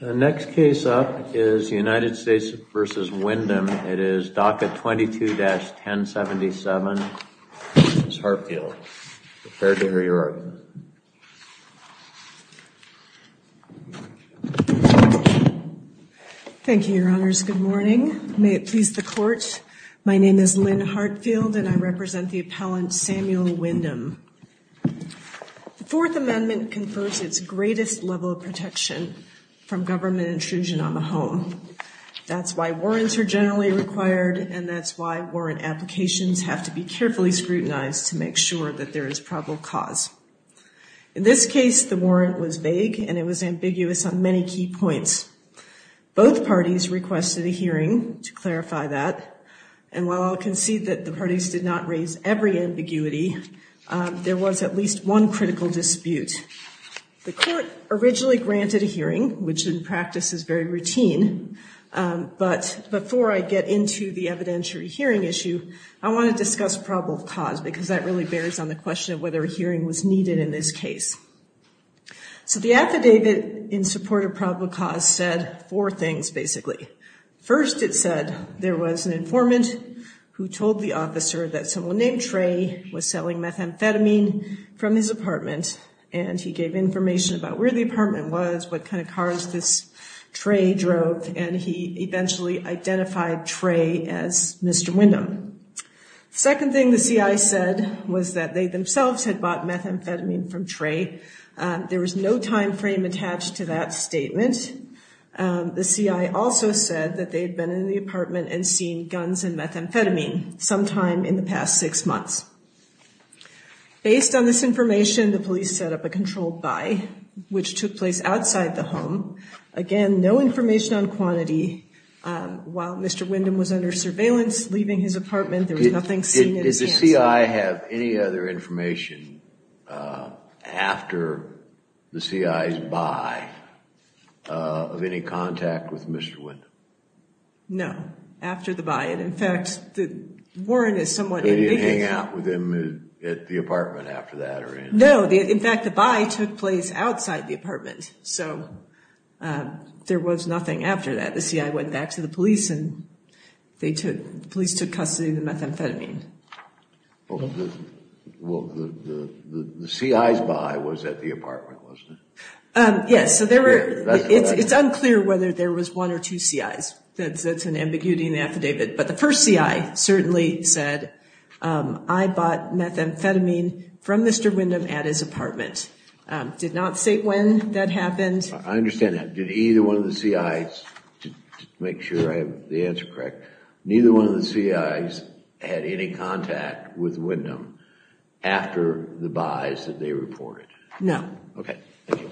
The next case up is United States v. Windom. It is docket 22-1077. Ms. Hartfield, prepare to hear your argument. Thank you, your honors. Good morning. May it please the court, my name is Lynn Hartfield and I represent the appellant Samuel Windom. The Fourth Amendment confers its greatest level of protection from government intrusion on the home. That's why warrants are generally required and that's why warrant applications have to be carefully scrutinized to make sure that there is probable cause. In this case, the warrant was vague and it was ambiguous on many key points. Both parties requested a hearing to clarify that. And while I'll concede that the parties did not raise every ambiguity, there was at least one critical dispute. The court originally granted a hearing, which in practice is very routine, but before I get into the evidentiary hearing issue, I want to discuss probable cause because that really bears on the question of whether a hearing was needed in this case. So the affidavit in support of probable cause said four things, basically. First, it said there was an informant who told the officer that someone named Trey was selling methamphetamine from his apartment and he gave information about where the apartment was, what kind of cars this Trey drove, and he eventually identified Trey as Mr. Windom. Second thing the CI said was that they themselves had bought methamphetamine from Trey. There was no time frame attached to that statement. The CI also said that they had been in the apartment and seen guns and methamphetamine sometime in the past six months. Based on this information, the police set up a controlled buy, which took place outside the home. Again, no information on quantity. While Mr. Windom was under surveillance, leaving his apartment, there was nothing seen in his hands. Did the CI have any other information after the CI's buy of any contact with Mr. Windom? No, after the buy. In fact, Warren is somewhat indignant. Did they hang out with him at the apartment after that? No. In fact, the buy took place outside the apartment, so there was nothing after that. The CI went back to the police and the police took custody of the methamphetamine. The CI's buy was at the apartment, wasn't it? It's unclear whether there was one or two CIs. That's an ambiguity in the affidavit. But the first CI certainly said, I bought methamphetamine from Mr. Windom at his apartment. Did not state when that happened. I understand that. Did either one of the CIs, to make sure I have the answer correct, neither one of the CIs had any contact with Windom after the buys that they reported? No. Okay. Thank you.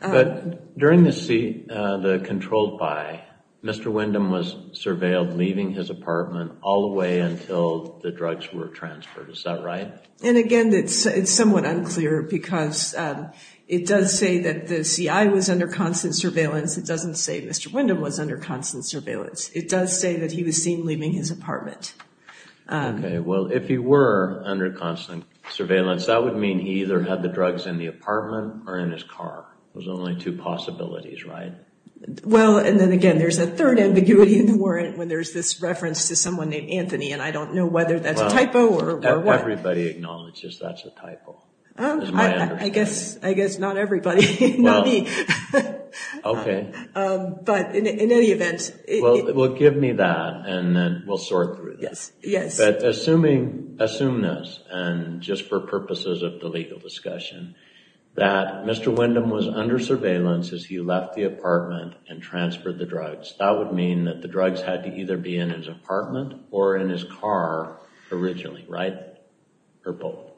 But during the controlled buy, Mr. Windom was surveilled leaving his apartment all the way until the drugs were transferred. Is that right? And again, it's somewhat unclear because it does say that the CI was under constant surveillance. It doesn't say Mr. Windom was under constant surveillance. It does say that he was seen leaving his apartment. Okay. Well, if he were under constant surveillance, that would mean he either had the drugs in the apartment or in his car. There's only two possibilities, right? Well, and then again, there's a third ambiguity in the warrant when there's this reference to someone named Anthony, and I don't know whether that's a typo or what. Everybody acknowledges that's a typo. I guess not everybody. Not me. Okay. But in any event... Well, give me that, and then we'll sort through this. Yes. But assume this, and just for purposes of the legal discussion, that Mr. Windom was under surveillance as he left the apartment and transferred the drugs. That would mean that the drugs had to either be in his apartment or in his car originally, right? Or both?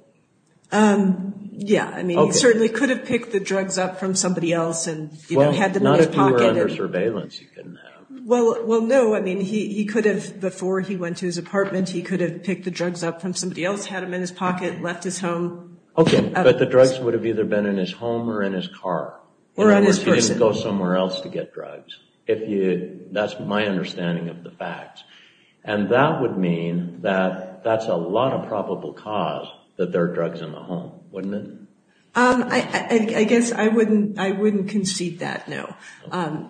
Yeah. I mean, he certainly could have picked the drugs up from somebody else and had them in his pocket. If he were under surveillance, he couldn't have. Well, no. I mean, he could have, before he went to his apartment, he could have picked the drugs up from somebody else, had them in his pocket, left his home. Okay. But the drugs would have either been in his home or in his car. Or on his person. Or he didn't go somewhere else to get drugs. That's my understanding of the fact. And that would mean that that's a lot of probable cause that there are drugs in the home, wouldn't it? I guess I wouldn't concede that, no.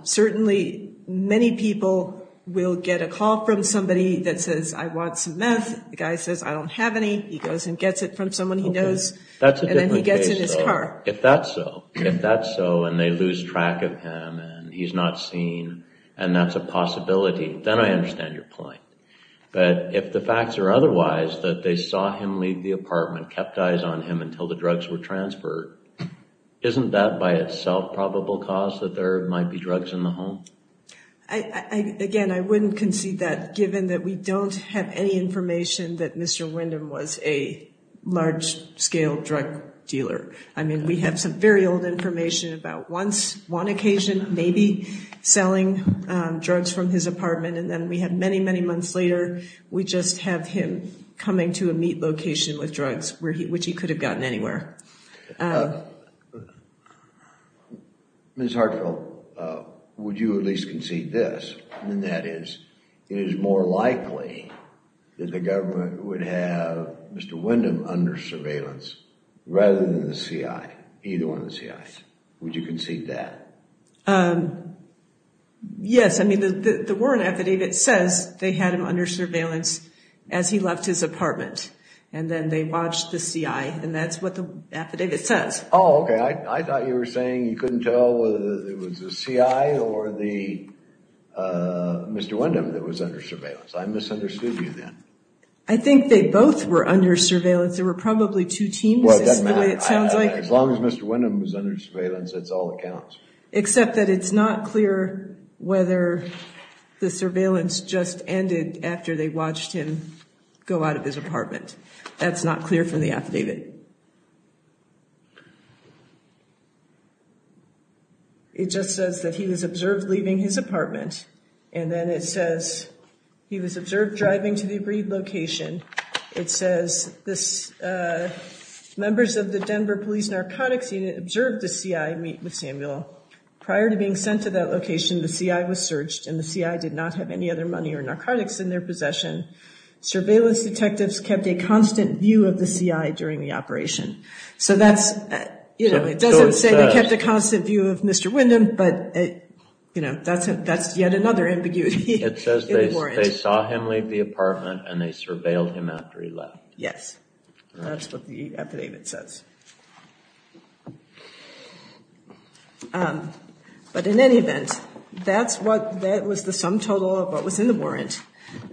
Certainly, many people will get a call from somebody that says, I want some meth. The guy says, I don't have any. He goes and gets it from someone he knows. And then he gets it in his car. If that's so, and they lose track of him, and he's not seen, and that's a possibility, then I understand your point. But if the facts are otherwise, that they saw him leave the apartment, kept eyes on him until the drugs were transferred, isn't that by itself probable cause that there might be drugs in the home? Again, I wouldn't concede that, given that we don't have any information that Mr. Wyndham was a large-scale drug dealer. I mean, we have some very old information about once, one occasion, maybe, selling drugs from his apartment. And then we have many, many months later, we just have him coming to a meat location with drugs, which he could have gotten anywhere. Ms. Hartfield, would you at least concede this, and that is, it is more likely that the government would have Mr. Wyndham under surveillance, rather than the CI, either one of the CIs. Would you concede that? Yes, I mean, the Warren affidavit says they had him under surveillance as he left his apartment, and then they watched the CI, and that's what the affidavit says. Oh, okay, I thought you were saying you couldn't tell whether it was the CI or the Mr. Wyndham that was under surveillance. I misunderstood you then. I think they both were under surveillance. There were probably two teams, is the way it sounds like. As long as Mr. Wyndham was under surveillance, that's all that counts. Except that it's not clear whether the surveillance just ended after they watched him go out of his apartment. That's not clear from the affidavit. It just says that he was observed leaving his apartment, and then it says he was observed driving to the agreed location. It says members of the Denver Police Narcotics Unit observed the CI meet with Samuel. Prior to being sent to that location, the CI was searched, and the CI did not have any other money or narcotics in their possession. Surveillance detectives kept a constant view of the CI during the operation. So it doesn't say they kept a constant view of Mr. Wyndham, but that's yet another ambiguity. It says they saw him leave the apartment, and they surveilled him after he left. Yes, that's what the affidavit says. But in any event, that was the sum total of what was in the warrant.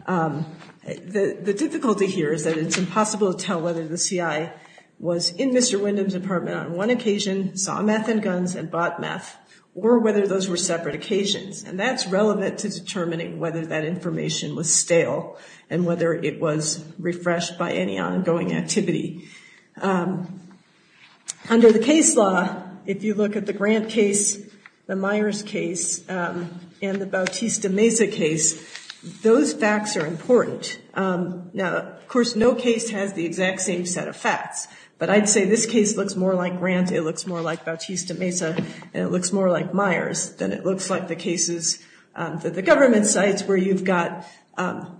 The difficulty here is that it's impossible to tell whether the CI was in Mr. Wyndham's apartment on one occasion, saw meth and guns, and bought meth, or whether those were separate occasions. And that's relevant to determining whether that information was stale and whether it was refreshed by any ongoing activity. Under the case law, if you look at the Grant case, the Myers case, and the Bautista-Mesa case, those facts are important. Now, of course, no case has the exact same set of facts, but I'd say this case looks more like Grant, it looks more like Bautista-Mesa, and it looks more like Myers than it looks like the cases, the government sites where you've got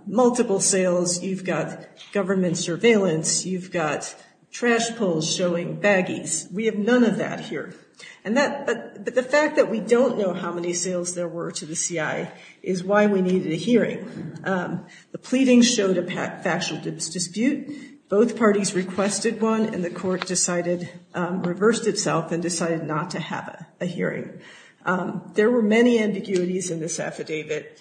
multiple sales, you've got government surveillance, you've got trash poles showing baggies. We have none of that here. But the fact that we don't know how many sales there were to the CI is why we needed a hearing. The pleadings showed a factual dispute. Both parties requested one, and the court reversed itself and decided not to have a hearing. There were many ambiguities in this affidavit.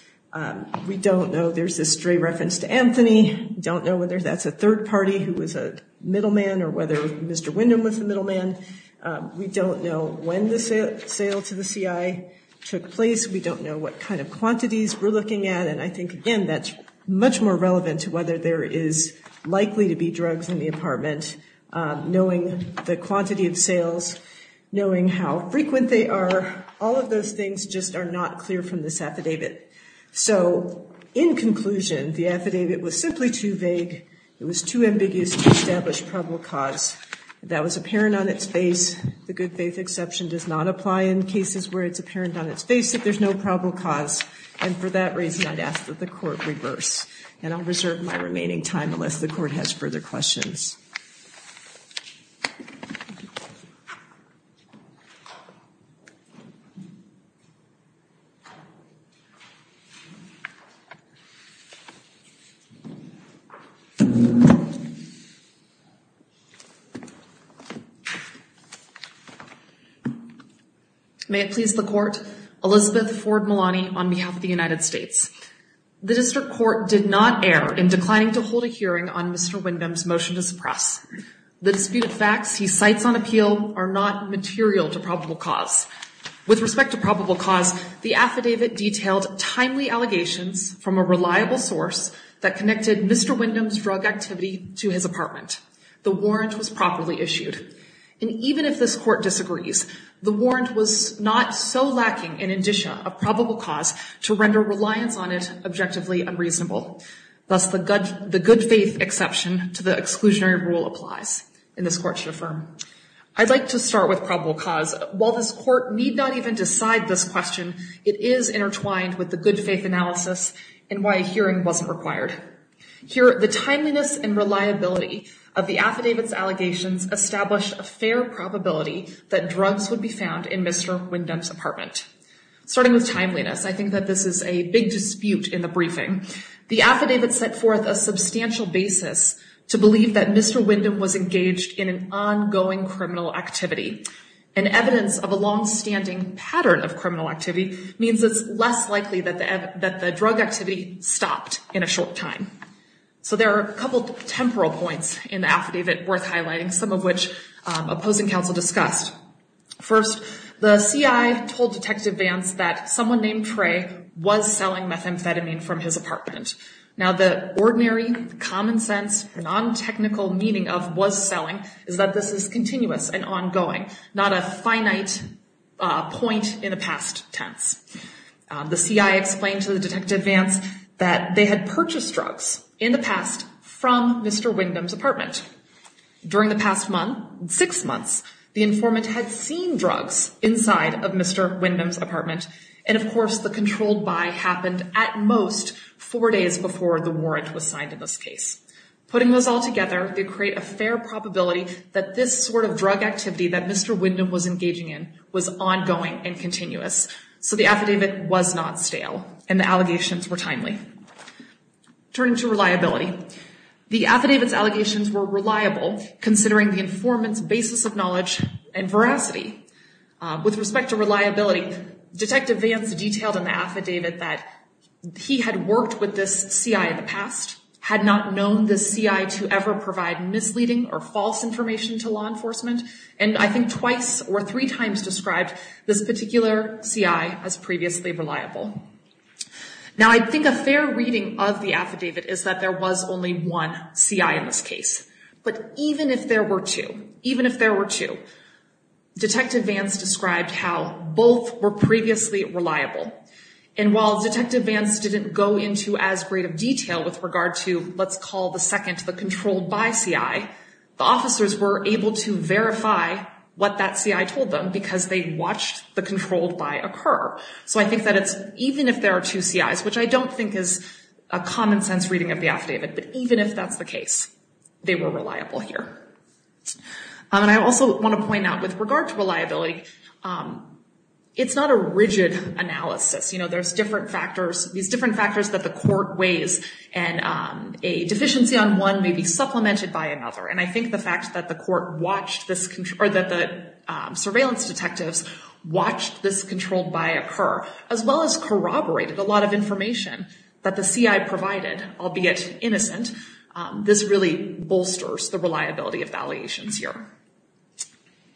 We don't know. There's a stray reference to Anthony. We don't know whether that's a third party who was a middleman or whether Mr. Wyndham was the middleman. We don't know when the sale to the CI took place. We don't know what kind of quantities we're looking at. And I think, again, that's much more relevant to whether there is likely to be drugs in the apartment, knowing the quantity of sales, knowing how frequent they are. All of those things just are not clear from this affidavit. So in conclusion, the affidavit was simply too vague. It was too ambiguous to establish probable cause. If that was apparent on its face, the good faith exception does not apply in cases where it's apparent on its face, if there's no probable cause. And for that reason, I'd ask that the court reverse. And I'll reserve my remaining time unless the court has further questions. May it please the court, Elizabeth Ford Malani on behalf of the United States. The district court did not err in declining to hold a hearing on Mr. Wyndham's motion to suppress the sale to the CI. The dispute of facts he cites on appeal are not material to probable cause. With respect to probable cause, the affidavit detailed timely allegations from a reliable source that connected Mr. Wyndham's drug activity to his apartment. The warrant was properly issued. And even if this court disagrees, the warrant was not so lacking in indicia of probable cause to render reliance on it objectively unreasonable. Thus, the good faith exception to the exclusionary rule applies in this court to affirm. I'd like to start with probable cause. While this court need not even decide this question, it is intertwined with the good faith analysis and why a hearing wasn't required. Here, the timeliness and reliability of the affidavit's allegations established a fair probability that drugs would be found in Mr. Wyndham's apartment. Starting with timeliness, I think that this is a big dispute in the briefing. The affidavit set forth a substantial basis to believe that Mr. Wyndham was engaged in an ongoing criminal activity. And evidence of a longstanding pattern of criminal activity means it's less likely that the drug activity stopped in a short time. So there are a couple temporal points in the affidavit worth highlighting, some of which opposing counsel discussed. First, the CI told Detective Vance that someone named Trey was selling methamphetamine from his apartment. Now, the ordinary, common sense, non-technical meaning of was selling is that this is continuous and ongoing, not a finite point in the past tense. The CI explained to the Detective Vance that they had purchased drugs in the past from Mr. Wyndham's apartment. During the past month, six months, the informant had seen drugs inside of Mr. Wyndham's apartment. And, of course, the controlled buy happened at most four days before the warrant was signed in this case. Putting those all together, they create a fair probability that this sort of drug activity that Mr. Wyndham was engaging in was ongoing and continuous. So the affidavit was not stale, and the allegations were timely. Turning to reliability, the affidavit's allegations were reliable, considering the informant's basis of knowledge and veracity. With respect to reliability, Detective Vance detailed in the affidavit that he had worked with this CI in the past, had not known this CI to ever provide misleading or false information to law enforcement, and I think twice or three times described this particular CI as previously reliable. Now, I think a fair reading of the affidavit is that there was only one CI in this case. But even if there were two, even if there were two, Detective Vance described how both were previously reliable. And while Detective Vance didn't go into as great of detail with regard to, let's call the second, the controlled buy CI, the officers were able to verify what that CI told them because they watched the controlled buy occur. So I think that it's, even if there are two CIs, which I don't think is a common sense reading of the affidavit, but even if that's the case, they were reliable here. And I also want to point out, with regard to reliability, it's not a rigid analysis. You know, there's different factors, these different factors that the court weighs, and a deficiency on one may be supplemented by another. And I think the fact that the court watched this, or that the surveillance detectives watched this controlled buy occur, as well as corroborated a lot of information that the CI provided, albeit innocent, this really bolsters the reliability of the allegations here.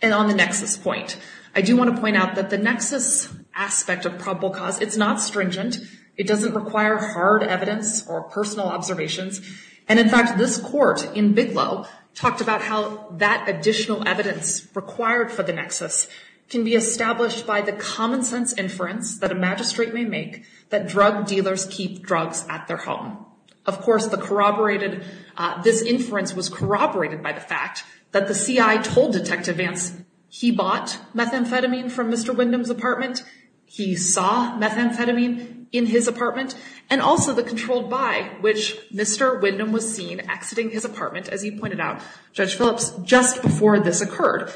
And on the nexus point, I do want to point out that the nexus aspect of probable cause, it's not stringent. It doesn't require hard evidence or personal observations. And, in fact, this court in Bigelow talked about how that additional evidence required for the nexus can be established by the common sense inference that a magistrate may make that drug dealers keep drugs at their home. Of course, this inference was corroborated by the fact that the CI told Detective Vance he bought methamphetamine from Mr. Wyndham's apartment, he saw methamphetamine in his apartment, and also the controlled buy, which Mr. Wyndham was seen exiting his apartment, as you pointed out, Judge Phillips, just before this occurred.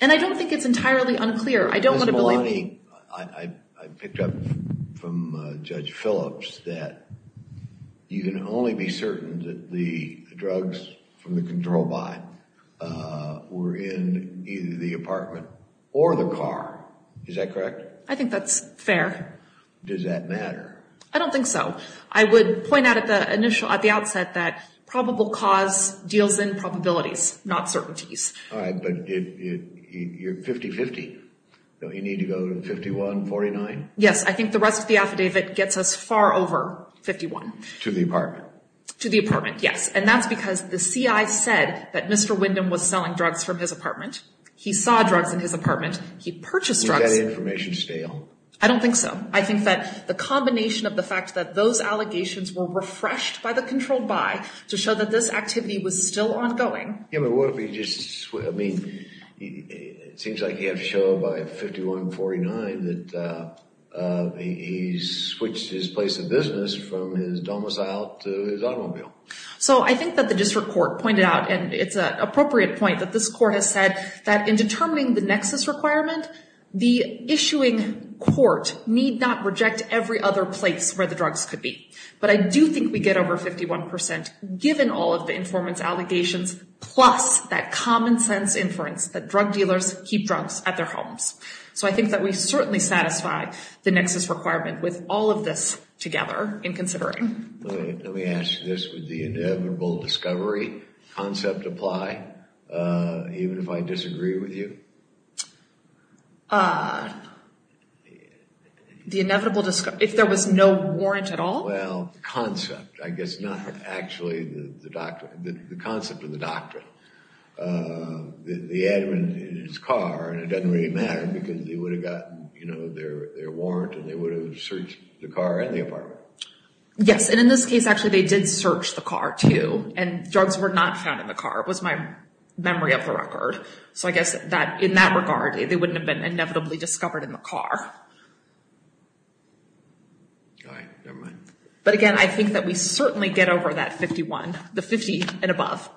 And I don't think it's entirely unclear. Ms. Maloney, I picked up from Judge Phillips that you can only be certain that the drugs from the controlled buy were in either the apartment or the car. Is that correct? I think that's fair. Does that matter? I don't think so. I would point out at the outset that probable cause deals in probabilities, not certainties. All right. But you're 50-50. Don't you need to go to 51-49? Yes. I think the rest of the affidavit gets us far over 51. To the apartment. To the apartment, yes. And that's because the CI said that Mr. Wyndham was selling drugs from his apartment. He saw drugs in his apartment. He purchased drugs. Is that information stale? I don't think so. I think that the combination of the fact that those allegations were refreshed by the controlled buy to show that this activity was still ongoing. Yeah, but what if he just, I mean, it seems like he had to show by 51-49 that he switched his place of business from his domicile to his automobile. So, I think that the district court pointed out, and it's an appropriate point that this requirement, the issuing court need not reject every other place where the drugs could be. But I do think we get over 51% given all of the informant's allegations plus that common sense inference that drug dealers keep drugs at their homes. So, I think that we certainly satisfy the nexus requirement with all of this together in considering. Let me ask you this. Would the inevitable discovery concept apply even if I disagree with you? The inevitable, if there was no warrant at all? Well, concept. I guess not actually the concept of the doctrine. The admin in his car, and it doesn't really matter because they would have gotten their warrant and they would have searched the car and the apartment. Yes, and in this case, actually, they did search the car too. And drugs were not found in the car. It was my memory of the record. So, I guess in that regard, they wouldn't have been inevitably discovered in the car. All right. Never mind. But again, I think that we certainly get over that 51, the 50 and above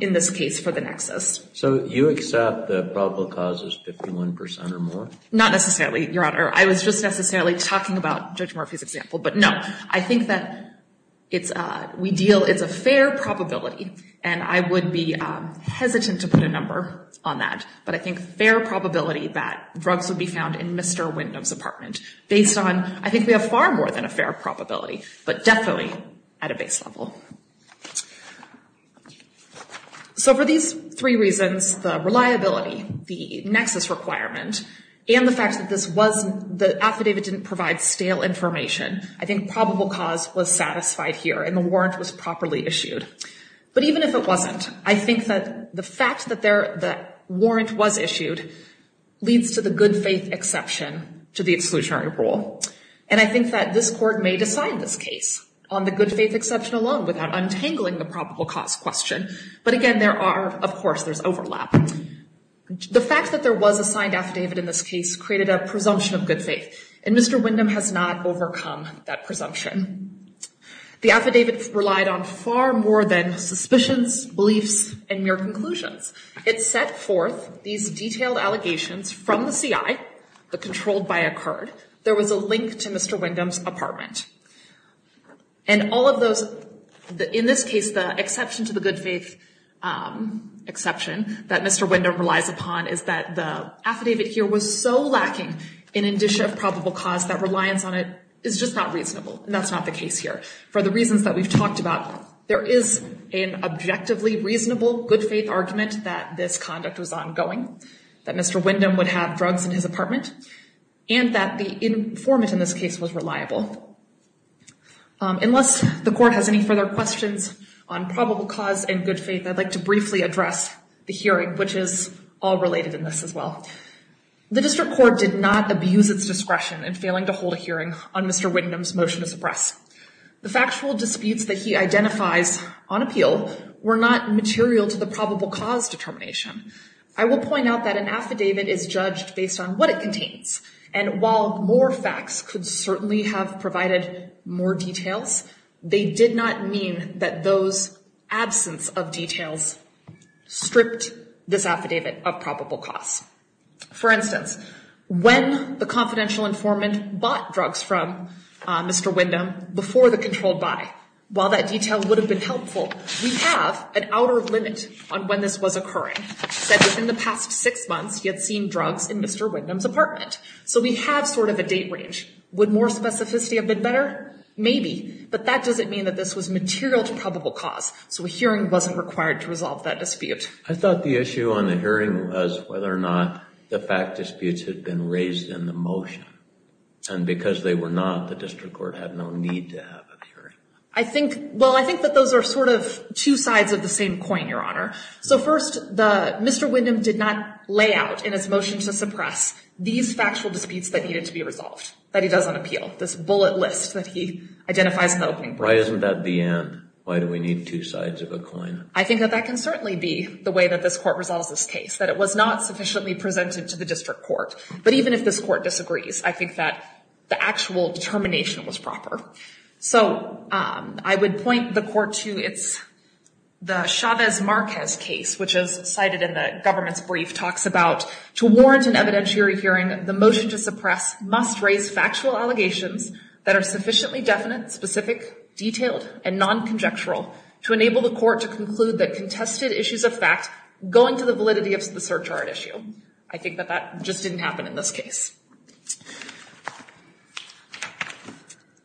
in this case for the nexus. So, you accept the probable cause is 51% or more? Not necessarily, Your Honor. I was just necessarily talking about Judge Murphy's example. But no, I think that we deal, it's a fair probability. And I would be hesitant to put a number on that. But I think fair probability that drugs would be found in Mr. Windham's apartment based on, I think we have far more than a fair probability, but definitely at a base level. So, for these three reasons, the reliability, the nexus requirement, and the fact that this was, the affidavit didn't provide stale information, I think probable cause was satisfied here and the warrant was properly issued. But even if it wasn't, I think that the fact that the warrant was issued leads to the good faith exception to the exclusionary rule. And I think that this court may decide this case on the good faith exception alone without untangling the probable cause question. But again, there are, of course, there's overlap. The fact that there was a signed affidavit in this case created a presumption of good faith. And Mr. Windham has not overcome that presumption. The affidavit relied on far more than suspicions, beliefs, and mere conclusions. It set forth these detailed allegations from the CI that controlled by a card. There was a link to Mr. Windham's apartment. And all of those, in this case, the exception to the good faith exception that Mr. Windham relies upon is that the affidavit here was so lacking in indicia of probable cause that reliance on it is just not reasonable. And that's not the case here. For the reasons that we've talked about, there is an objectively reasonable good faith argument that this conduct was ongoing, that Mr. Windham would have drugs in his apartment, and that the informant in this case was reliable. Unless the court has any further questions on probable cause and good faith, I'd like to briefly address the hearing, which is all related in this as well. The district court did not abuse its discretion in failing to hold a hearing on Mr. Windham's motion to suppress. The factual disputes that he identifies on appeal were not material to the probable cause determination. I will point out that an affidavit is judged based on what it contains. And while more facts could certainly have provided more details, they did not mean that those absence of details stripped this affidavit of probable cause. For instance, when the confidential informant bought drugs from Mr. Windham before the controlled buy, while that detail would have been helpful, we have an outer limit on when this was occurring, that within the past six months he had seen drugs in Mr. Windham's apartment. So we have sort of a date range. Would more specificity have been better? Maybe. But that doesn't mean that this was material to probable cause. So a hearing wasn't required to resolve that dispute. I thought the issue on the hearing was whether or not the fact disputes had been raised in the motion. And because they were not, the district court had no need to have a hearing. I think, well, I think that those are sort of two sides of the same coin, Your Honor. So first, Mr. Windham did not lay out in his motion to suppress these factual disputes that needed to be resolved, that he does on appeal. This bullet list that he identifies in the opening. Why isn't that the end? Why do we need two sides of a coin? I think that that can certainly be the way that this court resolves this case, that it was not sufficiently presented to the district court. But even if this court disagrees, I think that the actual determination was proper. So I would point the court to its, the Chavez-Marquez case, which is cited in the government's brief, talks about, to warrant an evidentiary hearing, the motion to suppress must raise factual allegations that are sufficiently definite, specific, detailed, and non-conjectural to enable the court to conclude that contested issues of fact go into the validity of the search warrant issue. I think that that just didn't happen in this case.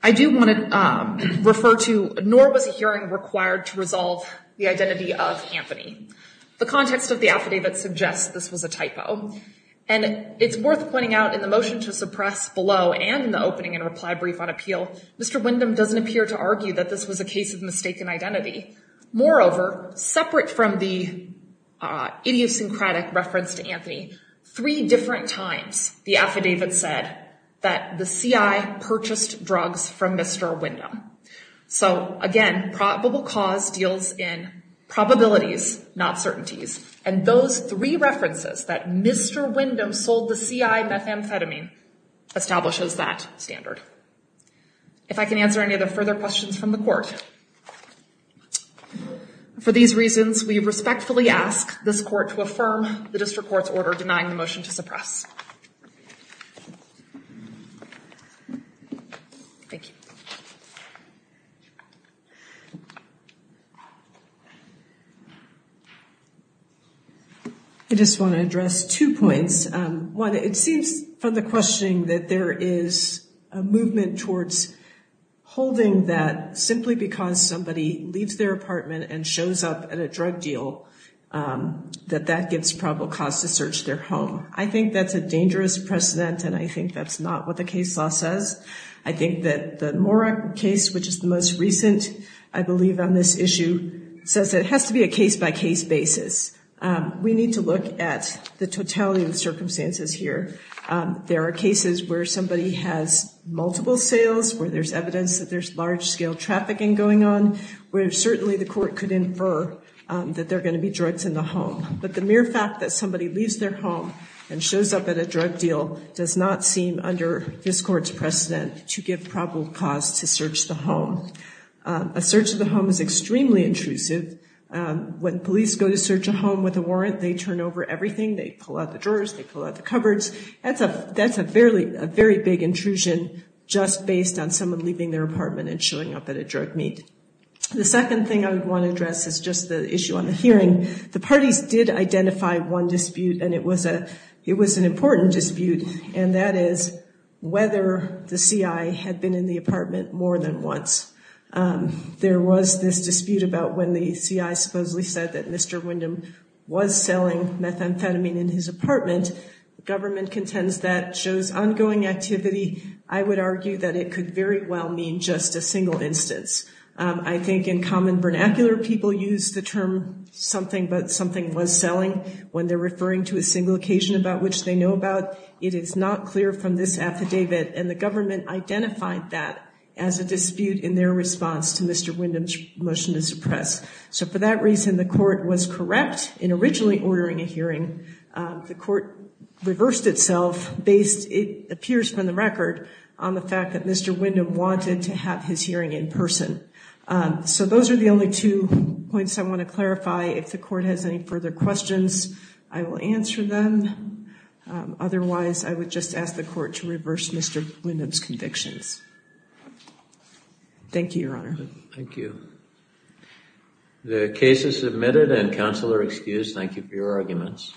I do want to refer to, nor was a hearing required to resolve the identity of Anthony. The context of the affidavit suggests this was a typo. And it's worth pointing out in the motion to suppress below and in the opening and reply brief on appeal, Mr. Windham doesn't appear to argue that this was a case of mistaken identity. Moreover, separate from the idiosyncratic reference to Anthony, three different times the affidavit said that the CI purchased drugs from Mr. Windham. So, again, probable cause deals in probabilities, not certainties. And those three references, that Mr. Windham sold the CI methamphetamine, establishes that standard. If I can answer any other further questions from the court. For these reasons, we respectfully ask this court to affirm the district court's order denying the motion to suppress. Thank you. I just want to address two points. One, it seems from the questioning that there is a movement towards holding that simply because somebody leaves their apartment and shows up at a drug deal, that that gives probable cause to search their home. I think that's a dangerous precedent and I think that's not what the case law says. I think that the Mora case, which is the most recent, I believe on this issue, says it has to be a case-by-case basis. We need to look at the totality of the circumstances here. There are cases where somebody has multiple sales, where there's evidence that there's large-scale trafficking going on, where certainly the court could infer that there are going to be drugs in the home. But the mere fact that somebody leaves their home and shows up at a drug deal does not seem, under this court's precedent, to give probable cause to search the home. A search of the home is extremely intrusive. When police go to search a home with a warrant, they turn over everything. They pull out the drawers. They pull out the cupboards. That's a very big intrusion just based on someone leaving their apartment and showing up at a drug meet. The second thing I want to address is just the issue on the hearing. The parties did identify one dispute, and it was an important dispute, and that is whether the CI had been in the apartment more than once. There was this dispute about when the CI supposedly said that Mr. Windham was selling methamphetamine in his apartment. Government contends that shows ongoing activity. I would argue that it could very well mean just a single instance. I think in common vernacular, people use the term something but something was selling when they're referring to a single occasion about which they know about. It is not clear from this affidavit, and the government identified that as a dispute in their response to Mr. Windham's motion to suppress. So for that reason, the court was correct in originally ordering a hearing. The court reversed itself based, it appears from the record, on the fact that Mr. Windham wanted to have his hearing in person. So those are the only two points I want to clarify. If the court has any further questions, I will answer them. Otherwise, I would just ask the court to reverse Mr. Windham's convictions. Thank you, Your Honor. Thank you. The case is submitted and counsel are excused. Thank you for your arguments.